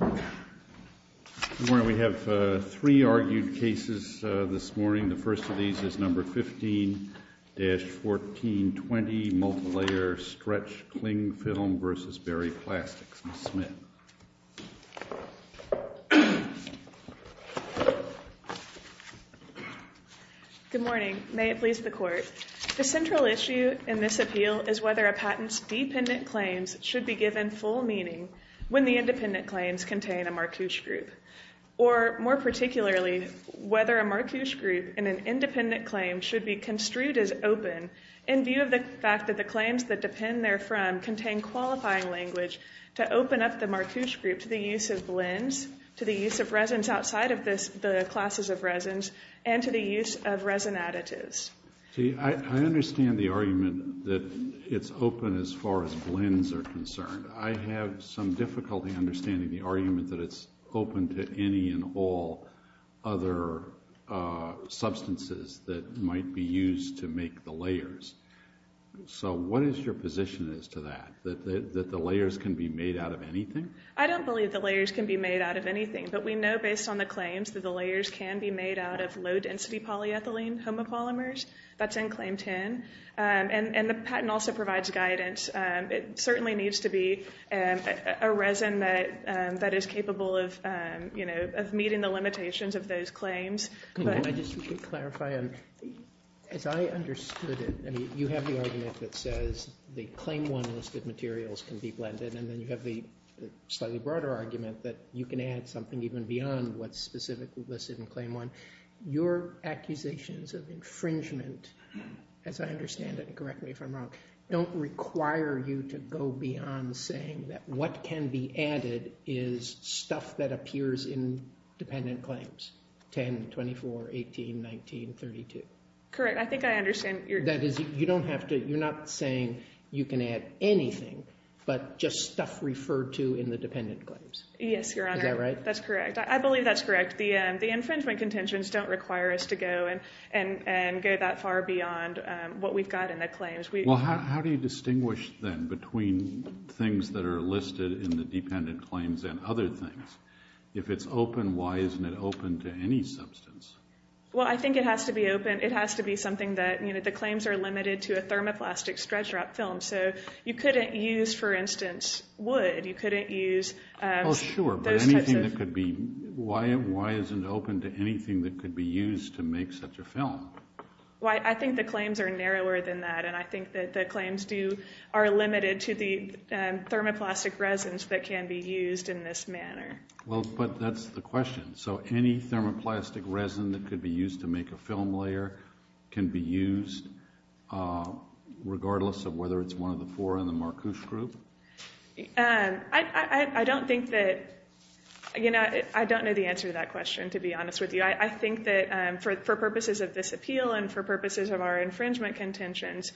Good morning. We have three argued cases this morning. The first of these is No. 15-1420 Multilayer Stretch Cling Film v. Berry Plastics. Ms. Smith. Good morning. May it please the Court. The central issue in this appeal is whether a the independent claims contain a Marcouche group, or more particularly, whether a Marcouche group in an independent claim should be construed as open in view of the fact that the claims that depend therefrom contain qualifying language to open up the Marcouche group to the use of blends, to the use of resins outside of the classes of resins, and to the use of resin additives. See, I understand the argument that it's open as far as blends are concerned. I have some difficulty understanding the argument that it's open to any and all other substances that might be used to make the layers. So what is your position as to that, that the layers can be made out of anything? I don't believe the layers can be made out of anything, but we know based on the claims that the layers can be made out of low-density polyethylene homopolymers. That's in Claim 10. And the patent also provides guidance. It certainly needs to be a resin that is capable of, you know, of meeting the limitations of those claims. If I could just clarify, as I understood it, you have the argument that says the Claim 1 list of materials can be blended, and then you have the slightly broader argument that you can add something even beyond what's specifically listed in Claim 1. Your accusations of infringement, as I understand it, and correct me if I'm wrong, don't require you to go beyond saying that what can be added is stuff that appears in dependent claims, 10, 24, 18, 19, 32. Correct. I think I understand. That is, you don't have to, you're not saying you can add anything, but just stuff referred to in the dependent claims. Yes, Your Honor. Is that right? That's correct. I believe that's correct. The infringement contentions don't require us to go and go that far beyond what we've got in the claims. Well, how do you distinguish, then, between things that are listed in the dependent claims and other things? If it's open, why isn't it open to any substance? Well, I think it has to be open. It has to be something that, you know, the claims are limited to a thermoplastic stretch wrap film. So, you couldn't use, for instance, wood. You couldn't use those types of... Oh, sure. But anything that could be... Why isn't it open to anything that could be used to make such a film? Well, I think the claims are narrower than that, and I think that the claims are limited to the thermoplastic resins that can be used in this manner. Well, but that's the question. So, any thermoplastic resin that could be used to make a film layer can be used, regardless of whether it's one of the four in the Marcouche group? I don't think that... You know, I don't know the answer to that question, to be honest with you. I think that, for purposes of this appeal and for purposes of our infringement contentions,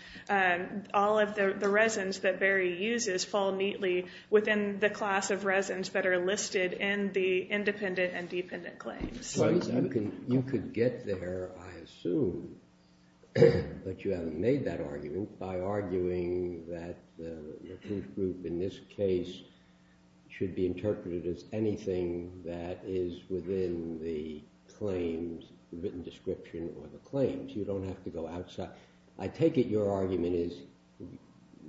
all of the resins that Barry uses fall neatly within the class of resins that are listed in the independent and dependent claims. Well, you could get there, I assume, but you haven't made that argument, by arguing that the Marcouche group, in this case, should be interpreted as anything that is within the claims, the written description, or the claims. You don't have to go outside... I take it your argument is,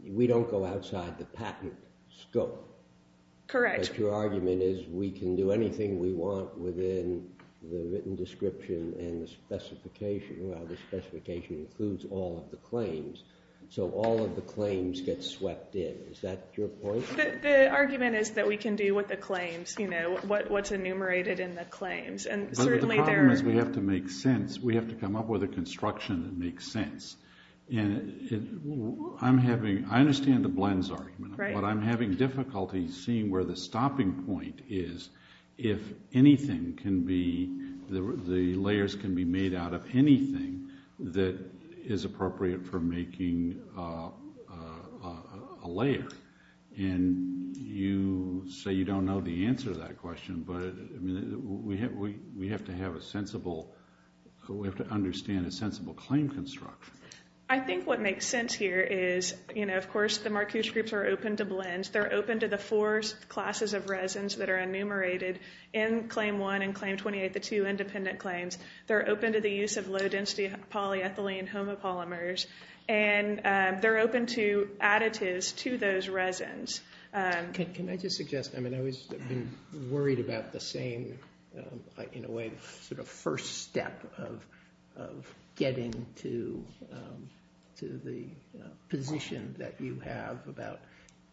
we don't go outside the patent scope. Correct. But your argument is, we can do anything we want within the written description and the specification. Well, the specification includes all of the claims, so all of the claims get swept in. Is that your point? The argument is that we can do with the claims, you know, what's enumerated in the claims, and certainly there... But the problem is, we have to make sense. We have to come up with a construction that makes sense. I understand the blends argument, but I'm having difficulty seeing where the stopping point is, if anything can be... the layers can be made out of anything that is a layer. And you say you don't know the answer to that question, but we have to have a sensible... we have to understand a sensible claim construction. I think what makes sense here is, you know, of course, the Marcouche groups are open to blends. They're open to the four classes of resins that are enumerated in Claim 1 and Claim 28, the two independent claims. They're open to the use of low-density polyethylene homopolymers, and they're open to additives to those resins. Can I just suggest, I mean, I've always been worried about the same, in a way, sort of first step of getting to the position that you have about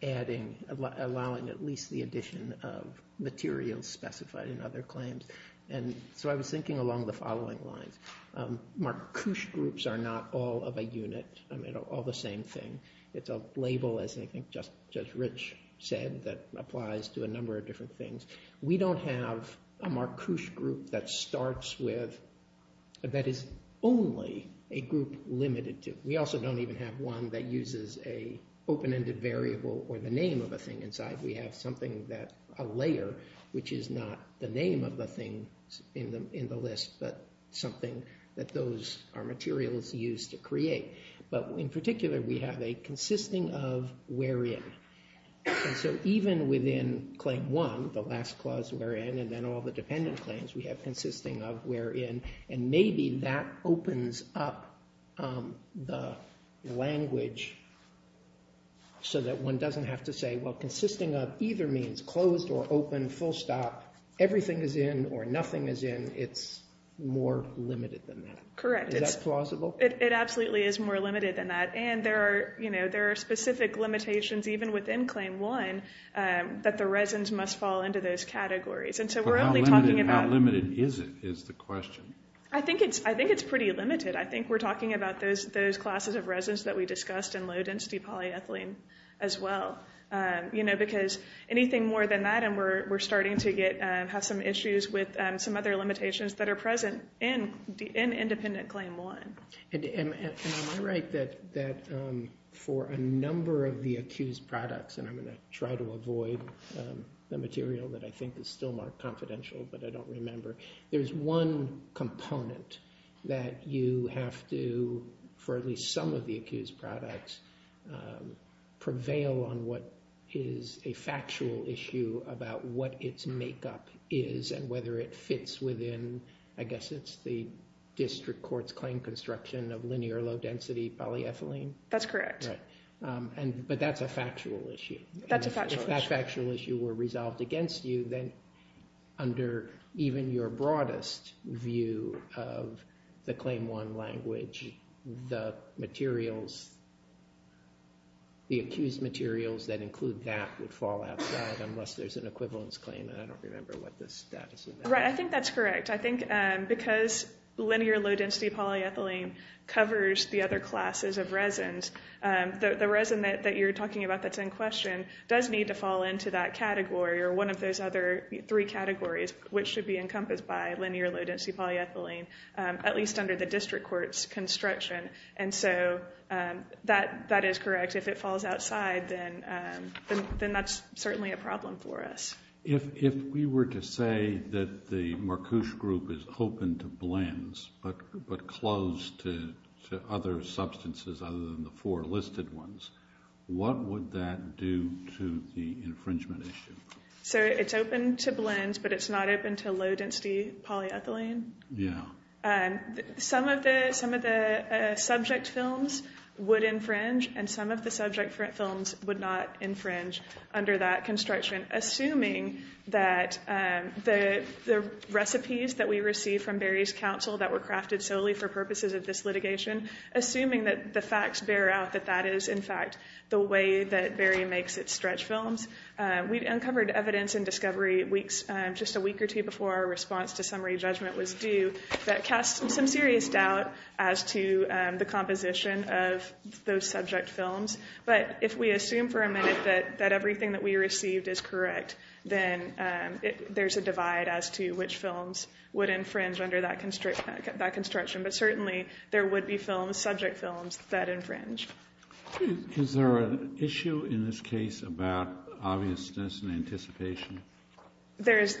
adding, allowing at least the addition of materials specified in other claims. And so I was thinking along the following lines. Marcouche groups are not all of a unit, I mean, all the same thing. It's a label, as I think Judge Rich said, that applies to a number of different things. We don't have a Marcouche group that starts with... that is only a group limited to. We also don't even have one that uses a open-ended variable or the name of a thing inside. We have something that, a layer, which is not the name of the thing in the list, but something that those are materials used to create. But in particular, we have a consisting of wherein. And so even within Claim 1, the last clause wherein, and then all the dependent claims, we have consisting of wherein. And maybe that opens up the language so that one doesn't have to say, well, consisting of either means closed or open, full stop, everything is in or nothing is in, it's more limited than that. Correct. Is that plausible? It absolutely is more limited than that. And there are, you know, there are specific limitations even within Claim 1 that the resins must fall into those categories. And so we're only talking about... But how limited is it, is the question. I think it's pretty limited. I think we're talking about those classes of resins that we discussed in low-density polyethylene as well. You know, because anything more than that and we're starting to have some issues with some other limitations that are present in independent Claim 1. And am I right that for a number of the accused products, and I'm going to try to avoid the material that I think is still more confidential but I don't remember, there's one component that you have to, for at least some of the accused products, prevail on what is a factual issue about what its makeup is and whether it fits within, I guess it's the district court's claim construction of linear low-density polyethylene? That's correct. But that's a factual issue. That's a factual issue. If that factual issue were resolved against you, then under even your broadest view of the Claim 1 language, the materials, the accused materials that include that would fall outside unless there's an equivalence claim and I don't remember what the status of that is. Right, I think that's correct. I think because linear low-density polyethylene covers the other classes of resins, the resin that you're talking about that's in question does need to fall into that category or one of those other three categories which should be encompassed by linear low-density polyethylene, at least under the district court's construction. And so that is correct. If it falls outside, then that's certainly a problem for us. If we were to say that the four listed ones, what would that do to the infringement issue? So it's open to blends, but it's not open to low-density polyethylene. Some of the subject films would infringe and some of the subject films would not infringe under that construction assuming that the recipes that we received from Barry's counsel that were crafted solely for purposes of this litigation, assuming that the facts bear out that that is, in fact, the way that Barry makes its stretch films. We uncovered evidence in discovery just a week or two before our response to summary judgment was due that casts some serious doubt as to the composition of those subject films. But if we assume for a minute that everything that we received is correct, then there's a divide as to which films would infringe under that construction. But certainly, there would be films, subject films, that infringe. Is there an issue in this case about obviousness and anticipation? There is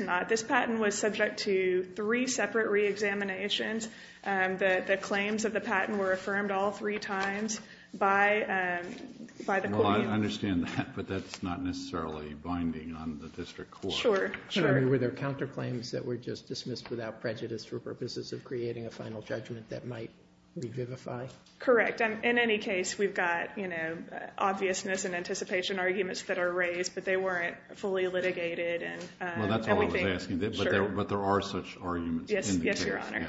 not. This patent was subject to three separate reexaminations. The claims of the patent were affirmed all three times by the court. Well, I understand that, but that's not necessarily binding on the district court. Sure, sure. I mean, were there counterclaims that were just dismissed without prejudice for purposes of creating a final judgment that might revivify? Correct. In any case, we've got, you know, obviousness and anticipation arguments that are raised, but they weren't fully litigated, and we think, sure. Well, that's all I was asking, but there are such arguments in the case. Yes, yes, Your Honor.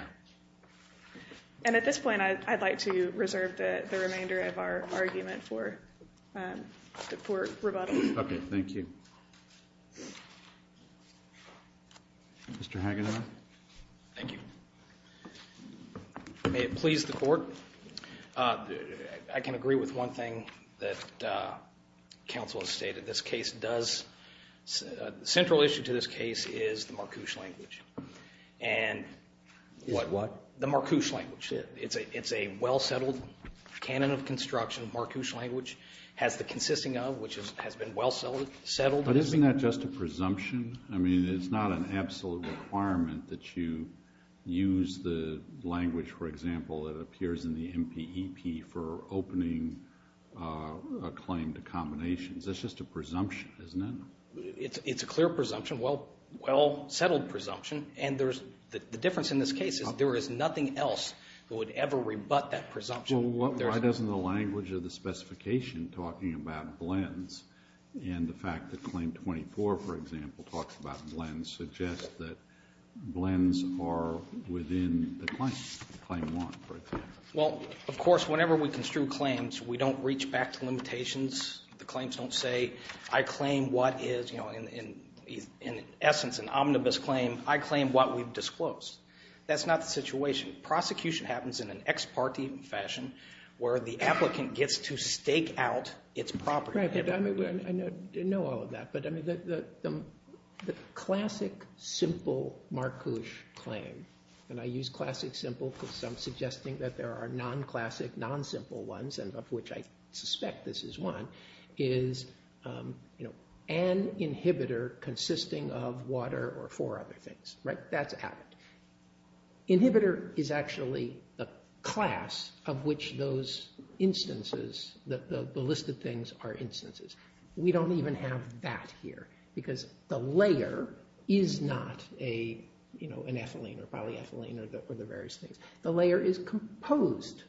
And at this point, I'd like to reserve the remainder of our argument for rebuttal. Okay. Thank you. Mr. Hagedorn. Thank you. May it please the Court? I can agree with one thing that counsel has stated. This case does – the central issue to this case is the Marcouche language. And – What, what? The Marcouche language. It's a well-settled canon of construction. Marcouche language has the consisting of, which has been well settled. But isn't that just a presumption? I mean, it's not an absolute requirement that you use the language, for example, that appears in the MPEP for opening a claim to combinations. That's just a presumption, isn't it? It's a clear presumption, well-settled presumption. And there's – the difference in this case is there is nothing else that would ever rebut that presumption. Well, why doesn't the language of the specification talking about blends and the fact that Claim 24, for example, talks about blends, suggest that blends are within the claim, Claim 1, for example? Well, of course, whenever we construe claims, we don't reach back to limitations. The claims don't say, I claim what is, you know, in essence an omnibus claim, I claim what we've disclosed. That's not the situation. Prosecution happens in an ex parte fashion where the applicant gets to stake out its property. Right, but I know all of that. But, I mean, the classic, simple Marcouche claim, and I use classic simple because I'm suggesting that there are non-classic, non-simple ones, and of which I suspect this is one, is, you know, an inhibitor consisting of water or four other things, right? That's added. Inhibitor is actually the class of which those instances, the listed things, are instances. We don't even have that here because the layer is not a, you know, an ethylene or polyethylene or the various things. The layer is composed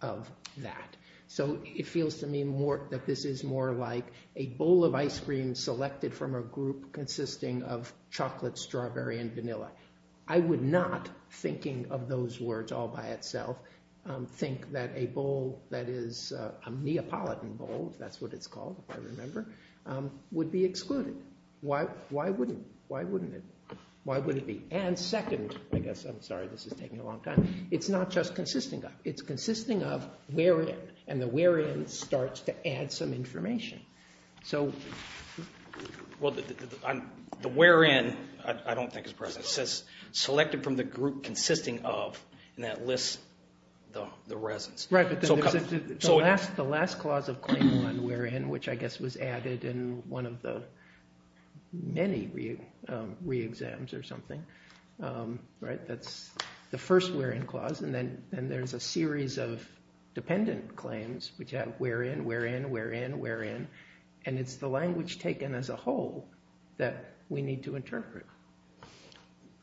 of that. So it feels to me that this is more like a bowl of ice cream selected from a group consisting of chocolate, strawberry, and vanilla. I would not, thinking of those words all by itself, think that a bowl that is a Neapolitan bowl, if that's what it's called, if I remember, would be excluded. Why wouldn't it? Why wouldn't it be? And second, I guess, I'm sorry this is taking a long time, it's not just consisting of. It's consisting of wherein, and the wherein starts to add some information. Well, the wherein I don't think is present. It says selected from the group consisting of, and that lists the resins. Right, but the last clause of claim 1, wherein, which I guess was added in one of the many re-exams or something, right? That's the first wherein clause, and then there's a series of dependent claims, which have wherein, wherein, wherein, wherein, and it's the language taken as a whole that we need to interpret.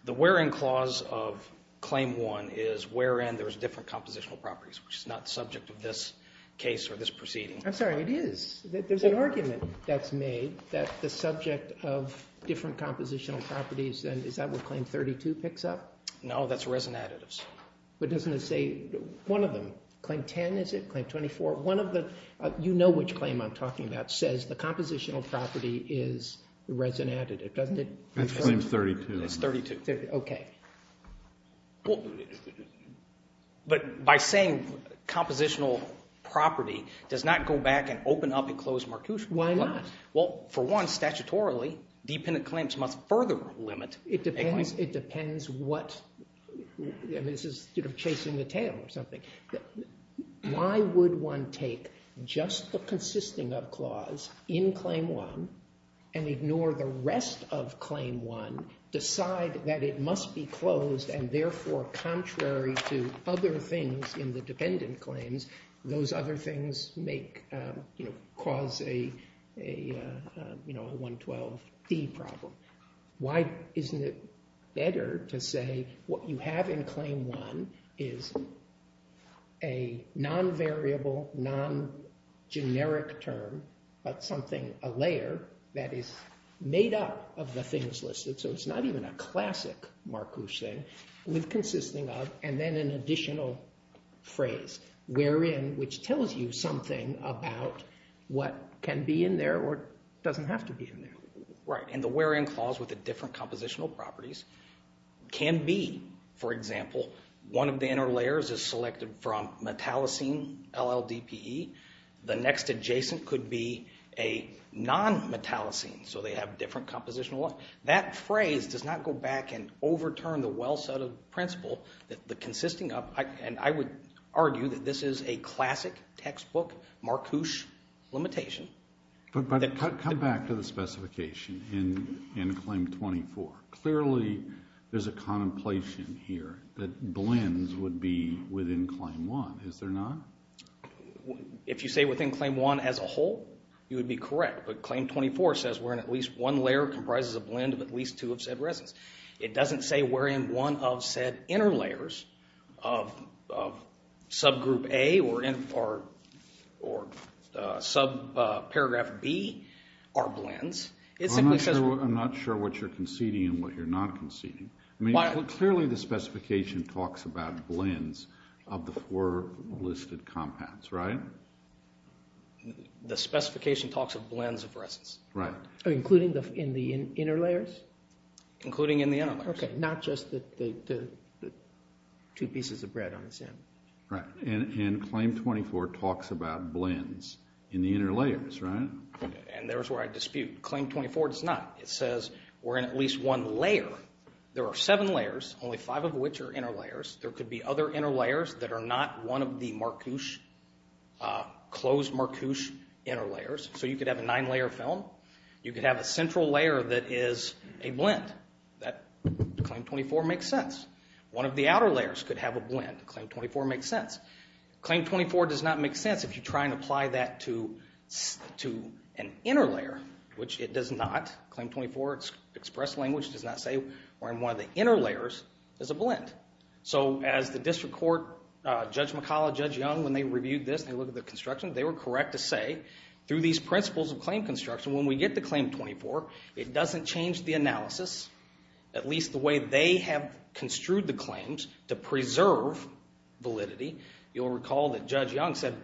The wherein clause of claim 1 is wherein there's different compositional properties, which is not the subject of this case or this proceeding. I'm sorry, it is. There's an argument that's made that the subject of different compositional properties, and is that what claim 32 picks up? No, that's resin additives. But doesn't it say, one of them, claim 10, is it? Claim 24? One of the, you know which claim I'm talking about, says the compositional property is the resin additive, doesn't it? That's claim 32. It's 32, okay. But by saying compositional property, does not go back and open up and close Marcuse-Wood. Why not? Well, for one, statutorily, dependent claims must further limit. It depends, it depends what, this is sort of chasing the tail or something. Why would one take just the consisting of clause in claim 1, and ignore the rest of claim 1, decide that it must be closed, and therefore contrary to other things in the dependent claims, those other things make, you know, cause a, you know, a 112D problem. Why isn't it better to say what you have in claim 1 is a non-variable, non-generic term, but something, a layer, that is made up of the things listed, so it's not even a classic Marcuse thing, with consisting of, and then an additional phrase, wherein, which tells you something about what can be in there, or doesn't have to be in there. Right. And the wherein clause with the different compositional properties can be, for example, one of the inner layers is selected from metallocene, LLDPE, the next adjacent could be a non-metallocene, so they have different compositional, that phrase does not go back and overturn the well-settled principle that the consisting of, and I would argue that this is a classic textbook Marcuse limitation. But come back to the specification in claim 24. Clearly there's a contemplation here that blends would be within claim 1. Is there not? If you say within claim 1 as a whole, you would be correct. But claim 24 says wherein at least one layer comprises a blend of at least two of said resins. It doesn't say wherein one of said inner layers of subgroup A or subparagraph B are blends. I'm not sure what you're conceding and what you're not conceding. Clearly the specification talks about blends of the four listed compounds, right? The specification talks of blends of resins. Right. Including in the inner layers? Including in the inner layers. Okay. Not just the two pieces of bread on the sand. Right. And claim 24 talks about blends in the inner layers, right? Okay. And there's where I dispute. Claim 24 does not. It says wherein at least one layer, there are seven layers, only five of which are inner layers. There could be other inner layers that are not one of the Marcuse, closed Marcuse inner layers. So you could have a nine-layer film. You could have a central layer that is a blend. That claim 24 makes sense. One of the outer layers could have a blend. Claim 24 makes sense. Claim 24 does not make sense if you try and apply that to an inner layer, which it does not. Claim 24's express language does not say wherein one of the inner layers is a blend. So as the district court, Judge McCollough, Judge Young, when they reviewed this and they looked at the construction, they were correct to say through these principles of claim construction, when we get to claim 24, it doesn't change the analysis, at least the way they have construed the claims, to preserve validity. You'll recall that Judge Young said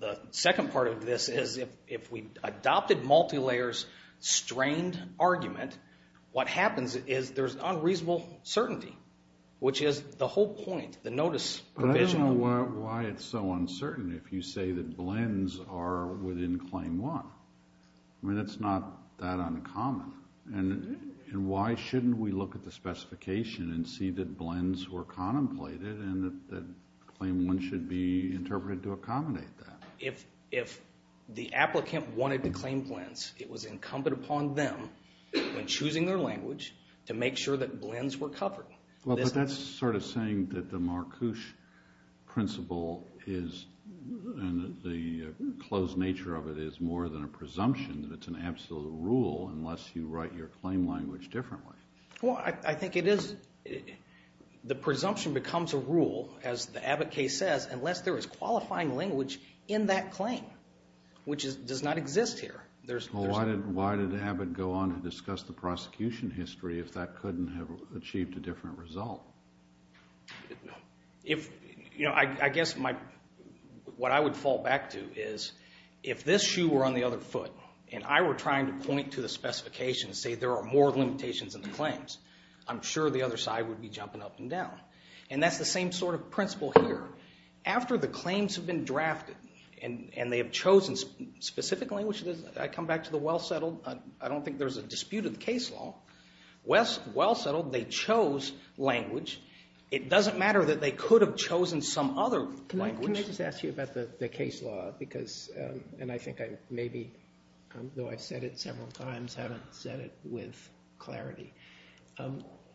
the second part of this is if we adopted multi-layers strained argument, what happens is there's unreasonable certainty, which is the whole point, the notice provision. I don't know why it's so uncertain if you say that blends are within claim one. I mean, it's not that uncommon. Why shouldn't we look at the specification and see that blends were contemplated and that claim one should be interpreted to accommodate that? If the applicant wanted to claim blends, it was incumbent upon them, when choosing their language, to make sure that blends were covered. Well, but that's sort of saying that the Marcouche principle is and the close nature of it is more than a presumption, that it's an absolute rule unless you write your claim language differently. Well, I think it is. The presumption becomes a rule, as the Abbott case says, unless there is qualifying language in that claim, which does not exist here. Well, why did Abbott go on to discuss the prosecution history if that couldn't have achieved a different result? I guess what I would fall back to is if this shoe were on the other foot and I were trying to point to the specification and say there are more limitations in the claims, I'm sure the other side would be jumping up and down. And that's the same sort of principle here. After the claims have been drafted and they have chosen specific language, I come back to the well-settled. I don't think there's a dispute in the case law. Well-settled, they chose language. It doesn't matter that they could have chosen some other language. Can I just ask you about the case law because, and I think I maybe, though I've said it several times, haven't said it with clarity.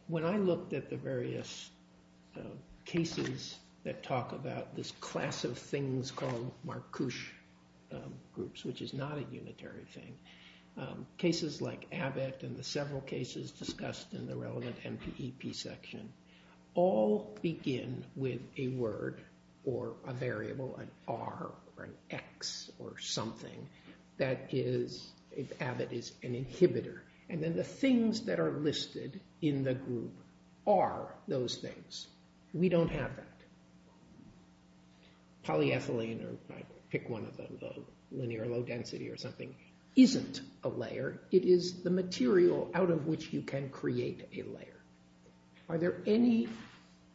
When I looked at the various cases that talk about this class of things called Marcouche groups, which is not a unitary thing, cases like Abbott and the several cases discussed in the relevant MPEP section all begin with a word or a variable, an R or an X or something that is, if Abbott is an inhibitor. And then the things that are listed in the group are those things. We don't have that. Polyethylene, or I pick one of the linear low density or something, isn't a layer. It is the material out of which you can create a layer. Are there any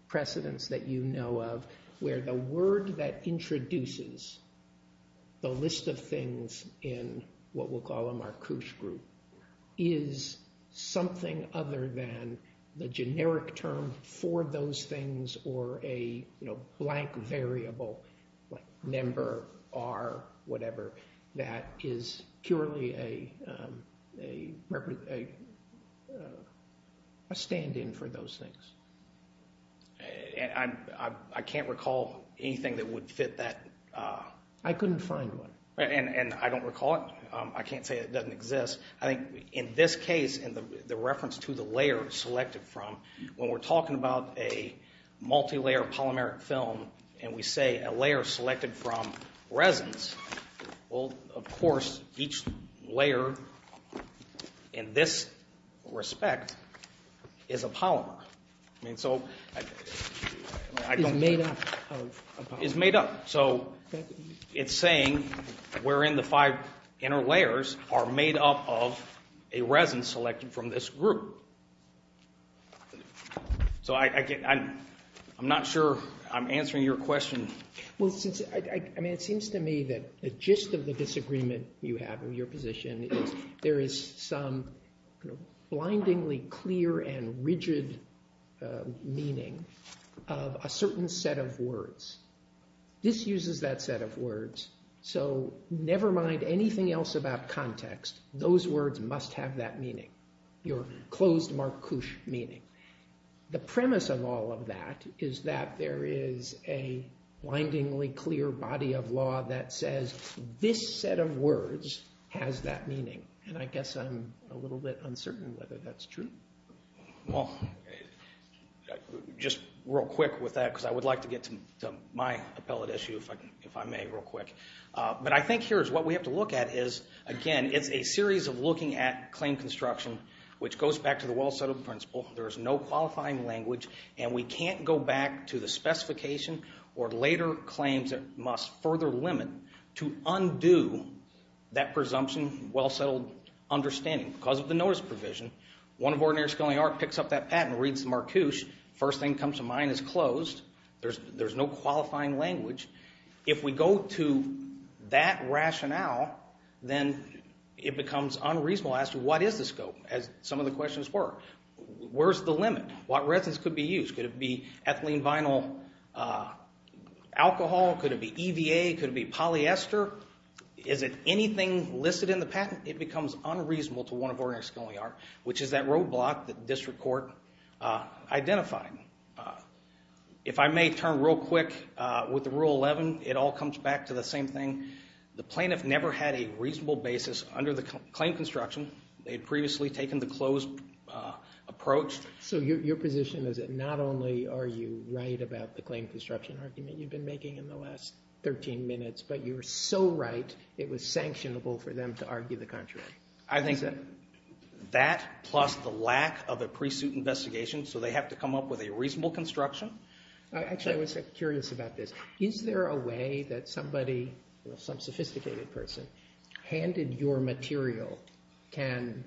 precedents that you know of where the word that introduces the list of things in what we'll call a Marcouche group is something other than the generic term for those things or a blank variable like number, R, whatever, that is purely a stand-in for those things? I can't recall anything that would fit that. I couldn't find one. And I don't recall it. I can't say it doesn't exist. I think in this case, in the reference to the layer selected from, when we're talking about a multilayer polymeric film and we say a layer selected from resins, well, of course, each layer in this respect is a polymer. It's made up of a polymer. It's made up. So it's saying we're in the five inner layers are made up of a resin selected from this group. So I'm not sure I'm answering your question. Well, it seems to me that the gist of the disagreement you have in your position is there is some blindingly clear and rigid meaning of a certain set of words. This uses that set of words. So never mind anything else about context. Those words must have that meaning, your closed Marcouche meaning. The premise of all of that is that there is a blindingly clear body of law that says this set of words has that meaning. And I guess I'm a little bit uncertain whether that's true. Well, just real quick with that, because I would like to get to my appellate issue if I may real quick. But I think here is what we have to look at is, again, it's a series of looking at claim construction, which goes back to the well-settled principle. There is no qualifying language, and we can't go back to the specification or later claims that must further limit to undo that presumption, well-settled understanding. Because of the notice provision, one of our ordinary scholarly art picks up that patent and reads the Marcouche. First thing that comes to mind is closed. There's no qualifying language. If we go to that rationale, then it becomes unreasonable as to what is the scope, as some of the questions were. Where's the limit? What resins could be used? Could it be ethylene vinyl alcohol? Could it be EVA? Could it be polyester? Is it anything listed in the patent? It becomes unreasonable to one of our ordinary scholarly art, which is that roadblock that district court identified. If I may turn real quick with the Rule 11, it all comes back to the same thing. The plaintiff never had a reasonable basis under the claim construction. They had previously taken the closed approach. So your position is that not only are you right about the claim construction argument you've been making in the last 13 minutes, but you're so right it was sanctionable for them to argue the contrary. I think that plus the lack of a pre-suit investigation, so they have to come up with a reasonable construction. Actually, I was curious about this. Is there a way that somebody, some sophisticated person, handed your material can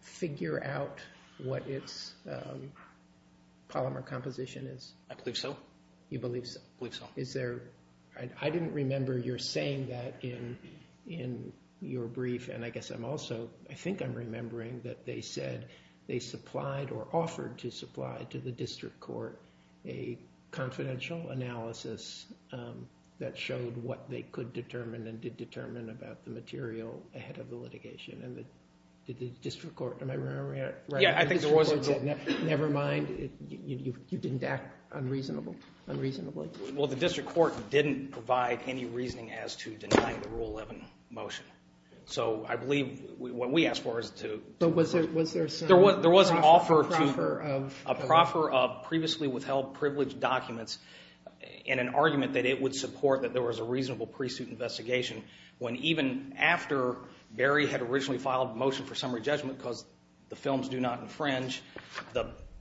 figure out what its polymer composition is? I believe so. You believe so? I believe so. I didn't remember your saying that in your brief, and I guess I'm also, I think I'm remembering, that they said they supplied or offered to supply to the district court a confidential analysis that showed what they could determine and did determine about the material ahead of the litigation. Did the district court, am I remembering it right? Yeah, I think there was a group. Never mind? You didn't act unreasonably? Well, the district court didn't provide any reasoning as to denying the Rule 11 motion. So I believe what we asked for is to. But was there a proffer of? There was an offer to a proffer of previously withheld privileged documents and an argument that it would support that there was a reasonable pre-suit investigation when even after Barry had originally filed a motion for summary judgment because the films do not infringe,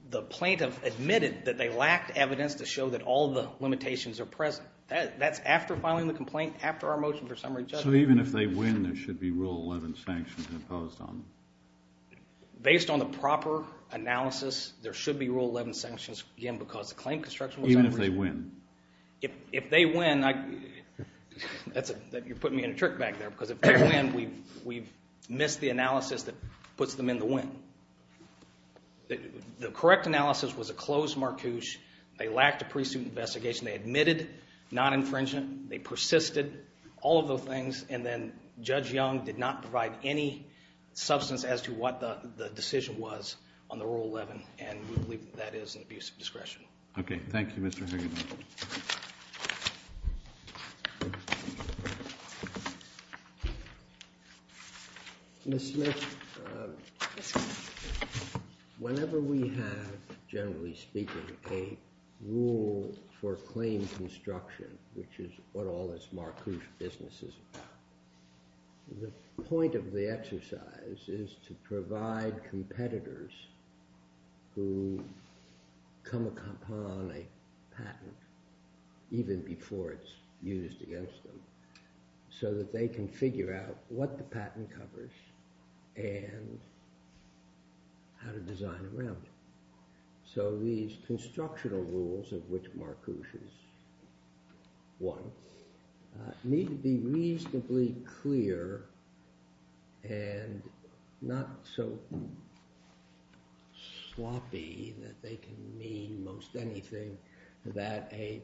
the plaintiff admitted that they lacked evidence to show that all the limitations are present. That's after filing the complaint, after our motion for summary judgment. So even if they win, there should be Rule 11 sanctions imposed on them? Based on the proper analysis, there should be Rule 11 sanctions, again, because the claim construction was... Even if they win? If they win, you're putting me in a trick bag there, because if they win, we've missed the analysis that puts them in the win. The correct analysis was a closed Marcouche. They lacked a pre-suit investigation. They admitted non-infringement. They persisted, all of those things, and then Judge Young did not provide any substance as to what the decision was on the Rule 11, and we believe that that is an abuse of discretion. Okay. Thank you, Mr. Hagedorn. Ms. Smith, whenever we have, generally speaking, a rule for claim construction which is what all this Marcouche business is about, the point of the exercise is to provide competitors who come upon a patent, even before it's used against them, so that they can figure out what the patent covers and how to design around it. So these constructional rules of which Marcouche has won need to be reasonably clear and not so sloppy that they can mean most anything that a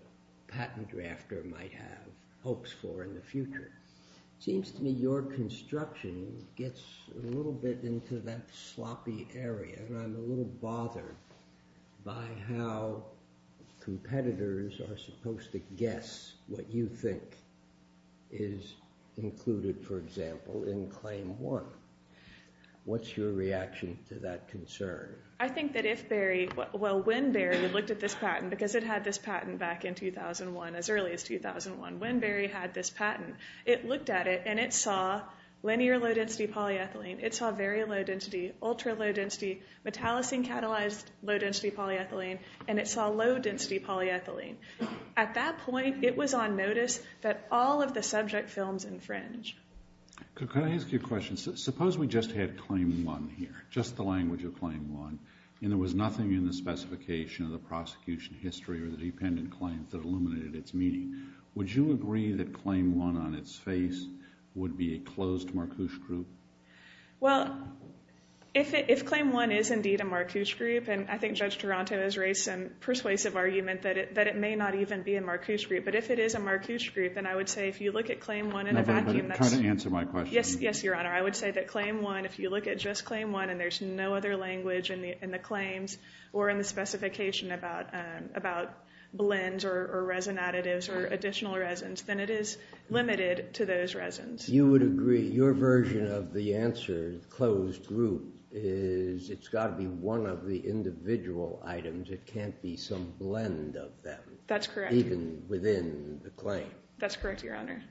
patent drafter might have hopes for in the future. It seems to me your construction gets a little bit into that sloppy area, and I'm a little bothered by how competitors are supposed to guess what you think is included, for example, in Claim 1. What's your reaction to that concern? I think that if Berry, well, when Berry looked at this patent, because it had this patent back in 2001, as early as 2001, when Berry had this patent, it looked at it and it saw linear low-density polyethylene. It saw very low-density, ultra-low-density, metallocene-catalyzed low-density polyethylene, and it saw low-density polyethylene. At that point, it was on notice that all of the subject films infringe. Could I ask you a question? Suppose we just had Claim 1 here, just the language of Claim 1, and there was nothing in the specification of the prosecution history or the dependent claims that illuminated its meaning. Would you agree that Claim 1, on its face, would be a closed Marcouche group? Well, if Claim 1 is indeed a Marcouche group, and I think Judge Toronto has raised some persuasive argument that it may not even be a Marcouche group, but if it is a Marcouche group, then I would say if you look at Claim 1 in a vacuum, that's... No, but try to answer my question. Yes, Your Honor. I would say that Claim 1, if you look at just Claim 1 and there's no other language in the claims or in the specification about blends or resin additives or additional resins, then it is limited to those resins. You would agree. Your version of the answer, closed group, is it's got to be one of the individual items. It can't be some blend of them. That's correct. Even within the claim. That's correct, Your Honor.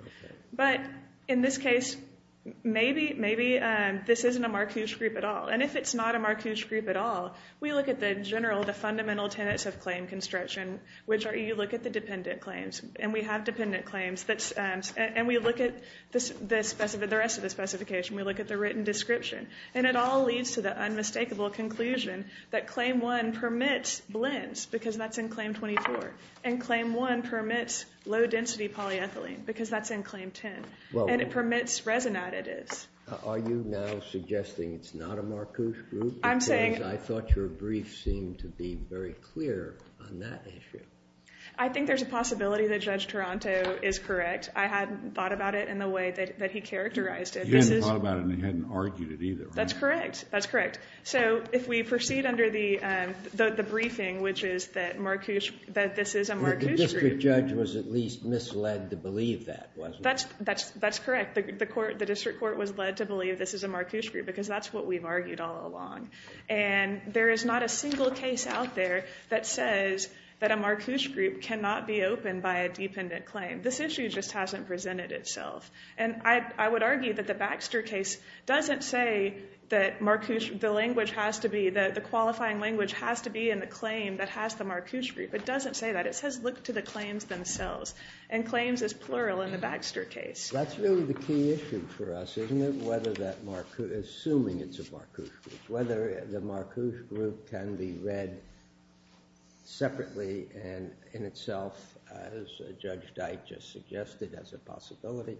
Okay. But in this case, maybe this isn't a Marcouche group at all. And if it's not a Marcouche group at all, we look at the general, the fundamental tenets of claim construction, which are you look at the dependent claims, and we have dependent claims, and we look at the rest of the specification. We look at the written description, and it all leads to the unmistakable conclusion that Claim 1 permits blends because that's in Claim 24, and Claim 1 permits low-density polyethylene because that's in Claim 10, and it permits resin additives. Are you now suggesting it's not a Marcouche group? I'm saying. Because I thought your brief seemed to be very clear on that issue. I think there's a possibility that Judge Toronto is correct. I hadn't thought about it in the way that he characterized it. He hadn't thought about it, and he hadn't argued it either. That's correct. That's correct. So if we proceed under the briefing, which is that this is a Marcouche group. The district judge was at least misled to believe that, wasn't he? That's correct. The district court was led to believe this is a Marcouche group because that's what we've argued all along, and there is not a single case out there that says that a Marcouche group cannot be opened by a dependent claim. This issue just hasn't presented itself, and I would argue that the Baxter case doesn't say that the qualifying language has to be in the claim that has the Marcouche group. It doesn't say that. It says look to the claims themselves, and claims is plural in the Baxter case. That's really the key issue for us, isn't it, assuming it's a Marcouche group, whether the Marcouche group can be read separately and in itself, as Judge Dyke just suggested, as a possibility,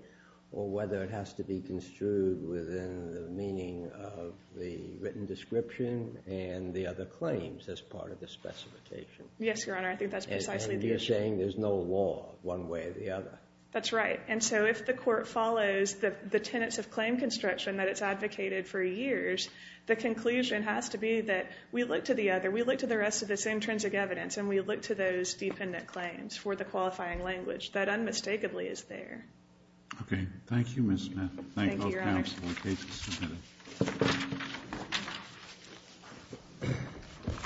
or whether it has to be construed within the meaning of the written description and the other claims as part of the specification. Yes, Your Honor. I think that's precisely the issue. And you're saying there's no law one way or the other. That's right. And so if the court follows the tenets of claim construction that it's advocated for years, the conclusion has to be that we look to the other, we look to the rest of this intrinsic evidence, and we look to those dependent claims for the qualifying language that unmistakably is there. Okay. Thank you, Ms. Smith. Thank you, Your Honor. Thank both counsel. The case is submitted.